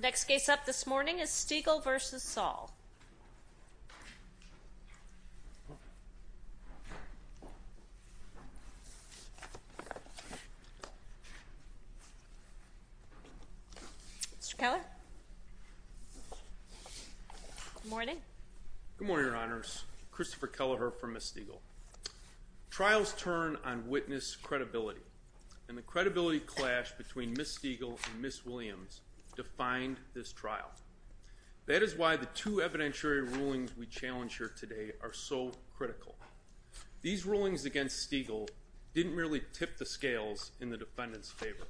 Next case up this morning is Stegall v. Saul. Mr. Keller? Good morning. Good morning, Your Honors. Christopher Keller here for Ms. Stegall. Trials turn on witness credibility, and the credibility clash between Ms. Stegall and Ms. Williams defined this trial. That is why the two evidentiary rulings we challenge here today are so critical. These rulings against Stegall didn't merely tip the scales in the defendant's favor.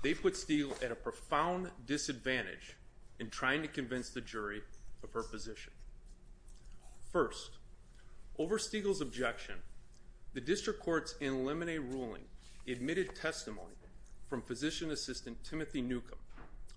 They put Stegall at a profound disadvantage in trying to convince the jury of her position. First, over Stegall's objection, the district court's in limine ruling admitted testimony from physician assistant Timothy Newcomb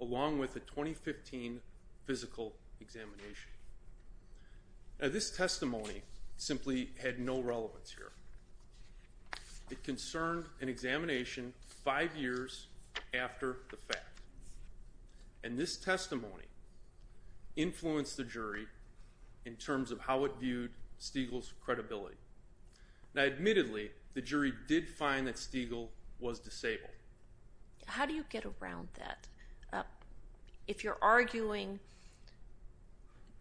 along with a 2015 physical examination. Now this testimony simply had no relevance here. It concerned an examination five years after the fact. And this testimony influenced the jury in terms of how it viewed Stegall's credibility. Now admittedly, the jury did find that Stegall was disabled. How do you get around that? If you're arguing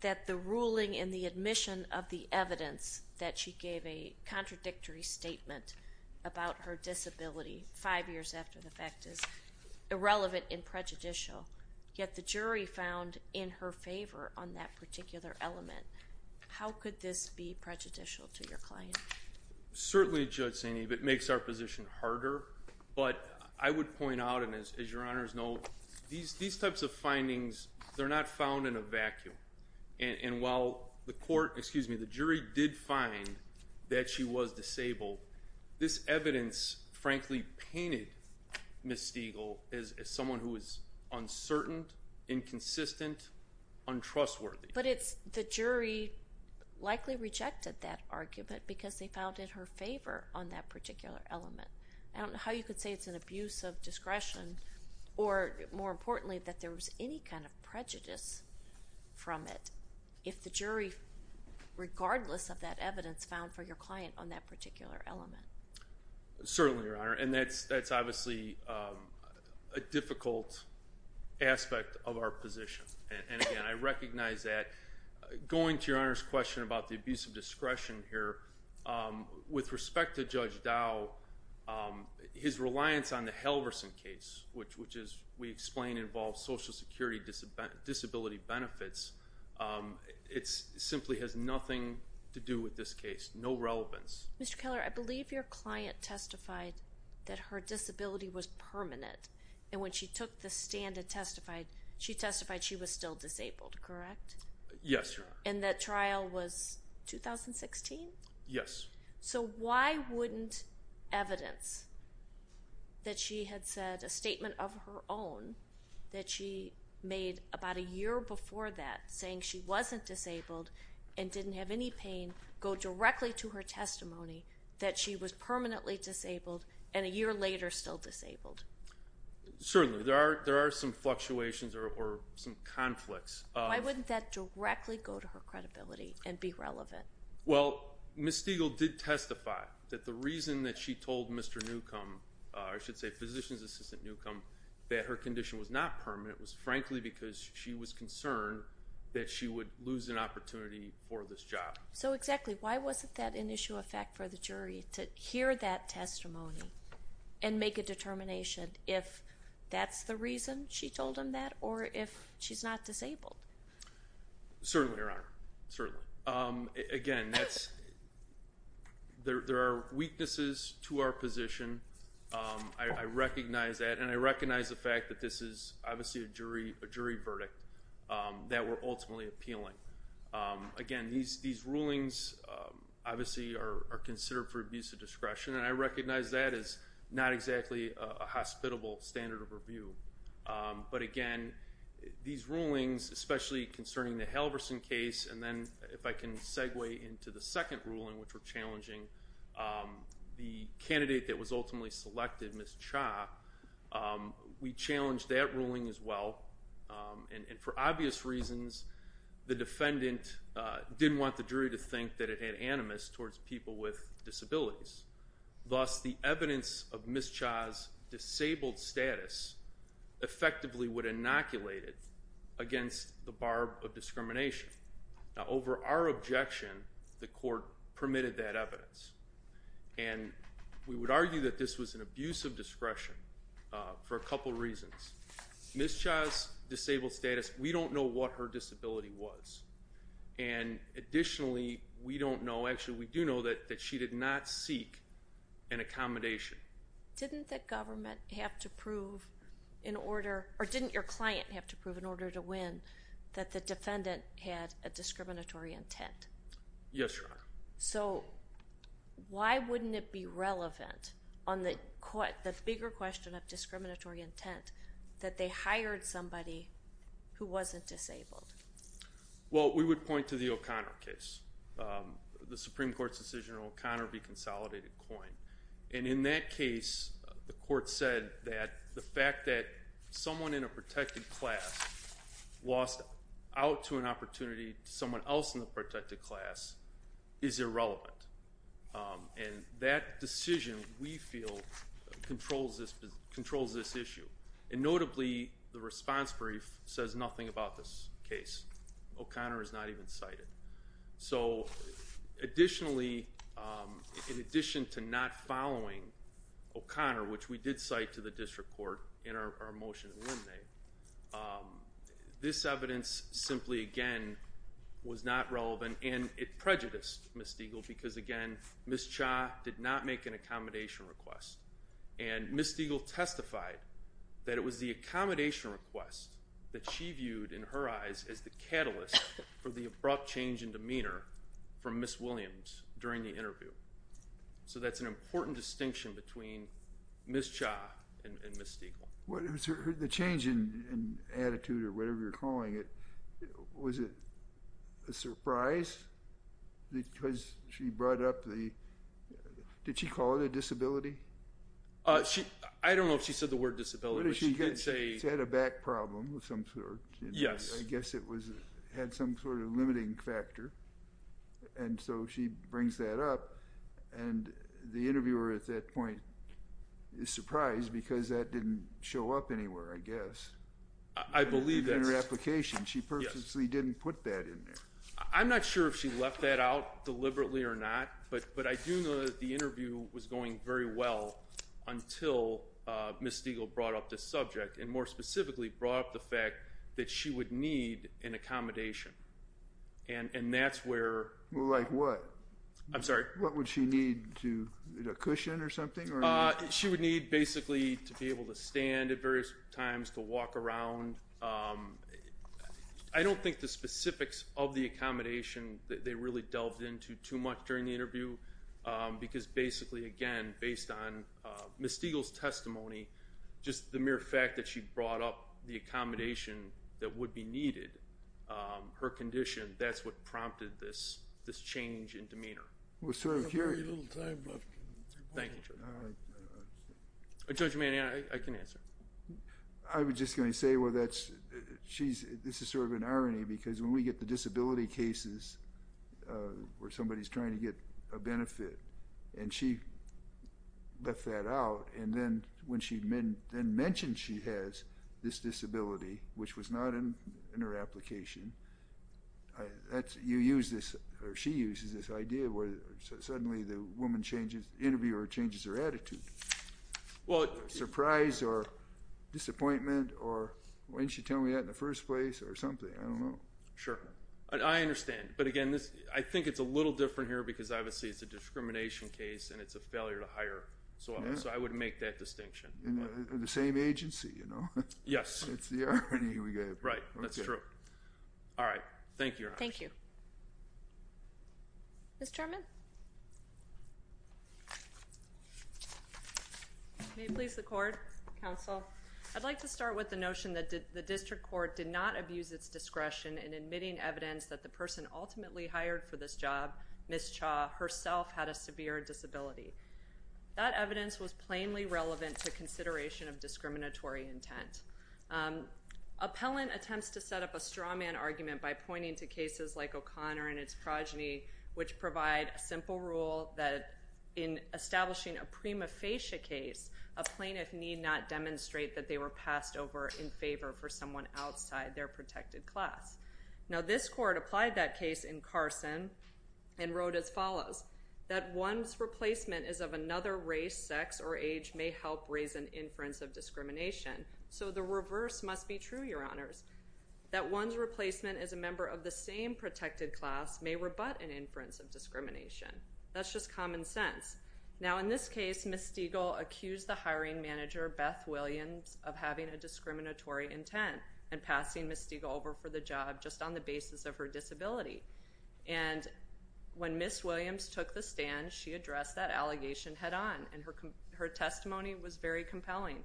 that the ruling in the admission of the evidence that she gave a contradictory statement about her disability five years after the fact is irrelevant and prejudicial, yet the jury found in her favor on that particular element, how could this be prejudicial to your client? Certainly, Judge Saini, it makes our position harder. But I would point out, and as your honors know, these types of findings, they're not found in a vacuum. And while the court, excuse me, the jury did find that she was disabled, this evidence frankly painted Ms. Stegall as someone who was uncertain, inconsistent, untrustworthy. But the jury likely rejected that argument because they found in her favor on that particular element. I don't know how you could say it's an abuse of discretion or, more importantly, that there was any kind of prejudice from it, if the jury, regardless of that evidence, found for your client on that particular element. Certainly, Your Honor. And that's obviously a difficult aspect of our position. And, again, I recognize that. Going to Your Honor's question about the abuse of discretion here, with respect to Judge Dow, his reliance on the Halverson case, which we explained involves Social Security disability benefits, it simply has nothing to do with this case, no relevance. Mr. Keller, I believe your client testified that her disability was permanent. And when she took the stand and testified, she testified she was still disabled, correct? Yes, Your Honor. And that trial was 2016? Yes. So why wouldn't evidence that she had said a statement of her own, that she made about a year before that, saying she wasn't disabled and didn't have any pain, go directly to her testimony that she was permanently disabled and a year later still disabled? Certainly. There are some fluctuations or some conflicts. Why wouldn't that directly go to her credibility and be relevant? Well, Ms. Stiegel did testify that the reason that she told Mr. Newcomb, I should say Physician's Assistant Newcomb, that her condition was not permanent was frankly because she was concerned that she would lose an opportunity for this job. So exactly, why wasn't that an issue of fact for the jury to hear that testimony and make a determination if that's the reason she told him that or if she's not disabled? Certainly, Your Honor. Certainly. Again, there are weaknesses to our position. I recognize that, and I recognize the fact that this is obviously a jury verdict that we're ultimately appealing. Again, these rulings obviously are considered for abuse of discretion, and I recognize that as not exactly a hospitable standard of review. But again, these rulings, especially concerning the Halverson case, and then if I can segue into the second ruling, which we're challenging, the candidate that was ultimately selected, Ms. Cha, we challenged that ruling as well. And for obvious reasons, the defendant didn't want the jury to think that it had animus towards people with disabilities. Thus, the evidence of Ms. Cha's disabled status effectively would inoculate it against the bar of discrimination. Now, over our objection, the court permitted that evidence. And we would argue that this was an abuse of discretion for a couple reasons. Ms. Cha's disabled status, we don't know what her disability was. And additionally, we don't know, actually we do know that she did not seek an accommodation. Didn't the government have to prove in order, or didn't your client have to prove in order to win that the defendant had a discriminatory intent? Yes, Your Honor. So why wouldn't it be relevant on the bigger question of discriminatory intent that they hired somebody who wasn't disabled? Well, we would point to the O'Connor case, the Supreme Court's decision on O'Connor v. Consolidated Coin. And in that case, the court said that the fact that someone in a protected class lost out to an opportunity to someone else in the protected class is irrelevant. And that decision, we feel, controls this issue. And notably, the response brief says nothing about this case. O'Connor is not even cited. So additionally, in addition to not following O'Connor, which we did cite to the district court in our motion to eliminate, this evidence simply, again, was not relevant. And it prejudiced Ms. Diegel because, again, Ms. Cha did not make an accommodation request. And Ms. Diegel testified that it was the accommodation request that she viewed in her eyes as the catalyst for the abrupt change in demeanor from Ms. Williams during the interview. So that's an important distinction between Ms. Cha and Ms. Diegel. The change in attitude or whatever you're calling it, was it a surprise because she brought up the – did she call it a disability? I don't know if she said the word disability, but she did say – She had a back problem of some sort. Yes. I guess it had some sort of limiting factor. And so she brings that up, and the interviewer at that point is surprised because that didn't show up anywhere, I guess. I believe that's – In her application. She purposely didn't put that in there. I'm not sure if she left that out deliberately or not, but I do know that the interview was going very well until Ms. Diegel brought up this subject, and more specifically brought up the fact that she would need an accommodation. And that's where – Like what? I'm sorry? What would she need? A cushion or something? She would need basically to be able to stand at various times, to walk around. I don't think the specifics of the accommodation they really delved into too much during the interview, just the mere fact that she brought up the accommodation that would be needed, her condition, that's what prompted this change in demeanor. We have very little time left. Thank you, Judge. All right. Judge Mann, I can answer. I was just going to say, well, that's – This is sort of an irony because when we get the disability cases where somebody's trying to get a benefit, and she left that out, and then when she then mentioned she has this disability, which was not in her application, you use this – or she uses this idea where suddenly the woman changes – the interviewer changes her attitude. Well – Surprise or disappointment or why didn't she tell me that in the first place or something? I don't know. Sure. I understand. But, again, I think it's a little different here because, obviously, it's a discrimination case and it's a failure to hire someone. So I would make that distinction. The same agency, you know. Yes. That's the irony we get. Right. That's true. All right. Thank you, Your Honor. Thank you. Ms. German? May it please the Court, Counsel. I'd like to start with the notion that the district court did not abuse its discretion in admitting evidence that the person ultimately hired for this job, Ms. Cha, herself had a severe disability. That evidence was plainly relevant to consideration of discriminatory intent. Appellant attempts to set up a straw man argument by pointing to cases like O'Connor and its progeny, which provide a simple rule that in establishing a prima facie case, a plaintiff need not demonstrate that they were passed over in favor for someone outside their protected class. Now, this court applied that case in Carson and wrote as follows. That one's replacement is of another race, sex, or age may help raise an inference of discrimination. So the reverse must be true, Your Honors. That one's replacement is a member of the same protected class may rebut an inference of discrimination. That's just common sense. Now, in this case, Ms. Stiegel accused the hiring manager, Beth Williams, of having a discriminatory intent and passing Ms. Stiegel over for the job just on the basis of her disability. And when Ms. Williams took the stand, she addressed that allegation head on, and her testimony was very compelling.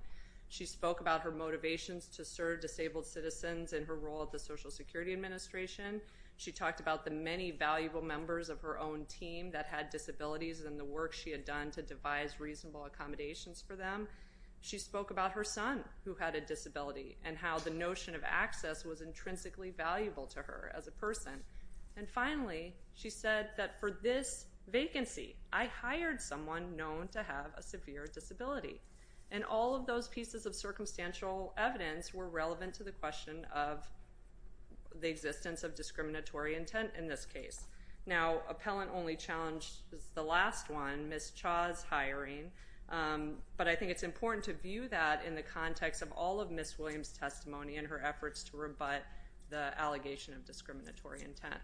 She spoke about her motivations to serve disabled citizens and her role at the Social Security Administration. She talked about the many valuable members of her own team that had disabilities and the work she had done to devise reasonable accommodations for them. She spoke about her son, who had a disability, and how the notion of access was intrinsically valuable to her as a person. And finally, she said that for this vacancy, I hired someone known to have a severe disability. And all of those pieces of circumstantial evidence were relevant to the question of the existence of discriminatory intent in this case. Now, appellant only challenged the last one, Ms. Cha's hiring. But I think it's important to view that in the context of all of Ms. Williams' testimony and her efforts to rebut the allegation of discriminatory intent.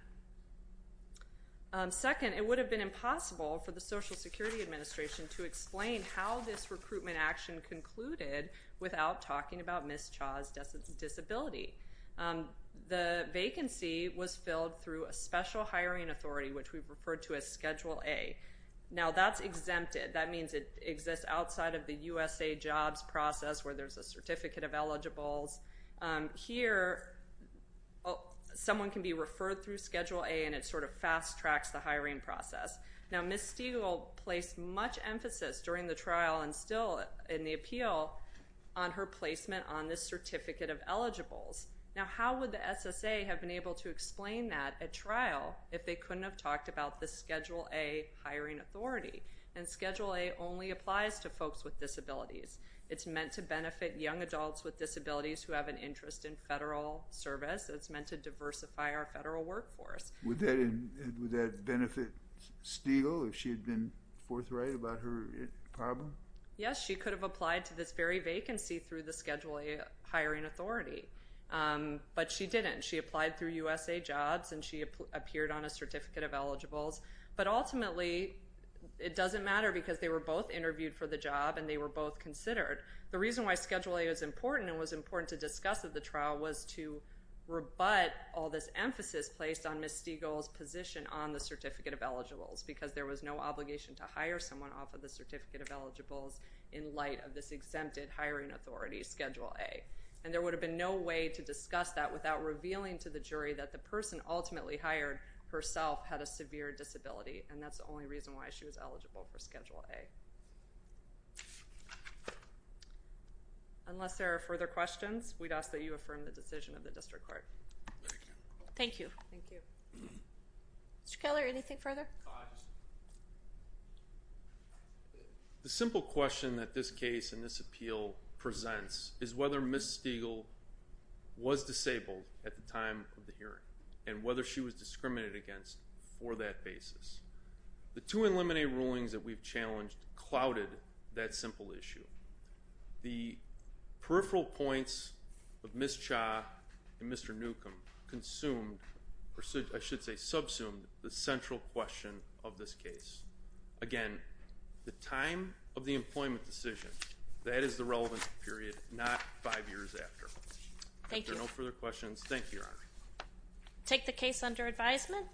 Second, it would have been impossible for the Social Security Administration to explain how this recruitment action concluded without talking about Ms. Cha's disability. The vacancy was filled through a special hiring authority, which we've referred to as Schedule A. Now, that's exempted. That means it exists outside of the USA jobs process, where there's a certificate of eligibles. Here, someone can be referred through Schedule A, and it sort of fast-tracks the hiring process. Now, Ms. Stegall placed much emphasis during the trial and still in the appeal on her placement on this certificate of eligibles. Now, how would the SSA have been able to explain that at trial if they couldn't have talked about the Schedule A hiring authority? And Schedule A only applies to folks with disabilities. It's meant to benefit young adults with disabilities who have an interest in federal service. It's meant to diversify our federal workforce. Would that benefit Stegall if she had been forthright about her problem? Yes, she could have applied to this very vacancy through the Schedule A hiring authority, but she didn't. She applied through USA Jobs, and she appeared on a certificate of eligibles. But ultimately, it doesn't matter because they were both interviewed for the job, and they were both considered. The reason why Schedule A was important and was important to discuss at the trial was to rebut all this emphasis placed on Ms. Stegall's position on the certificate of eligibles, because there was no obligation to hire someone off of the certificate of eligibles in light of this exempted hiring authority, Schedule A. And there would have been no way to discuss that without revealing to the jury that the person ultimately hired herself had a severe disability, and that's the only reason why she was eligible for Schedule A. Unless there are further questions, we'd ask that you affirm the decision of the district court. Thank you. Mr. Keller, anything further? The simple question that this case and this appeal presents is whether Ms. Stegall was disabled at the time of the hearing, and whether she was discriminated against for that basis. The two eliminated rulings that we've challenged clouded that simple issue. The peripheral points of Ms. Cha and Mr. Newcomb consumed, or I should say subsumed, the central question of this case. Again, the time of the employment decision, that is the relevant period, not five years after. Thank you. If there are no further questions, thank you, Your Honor. Take the case under advisement.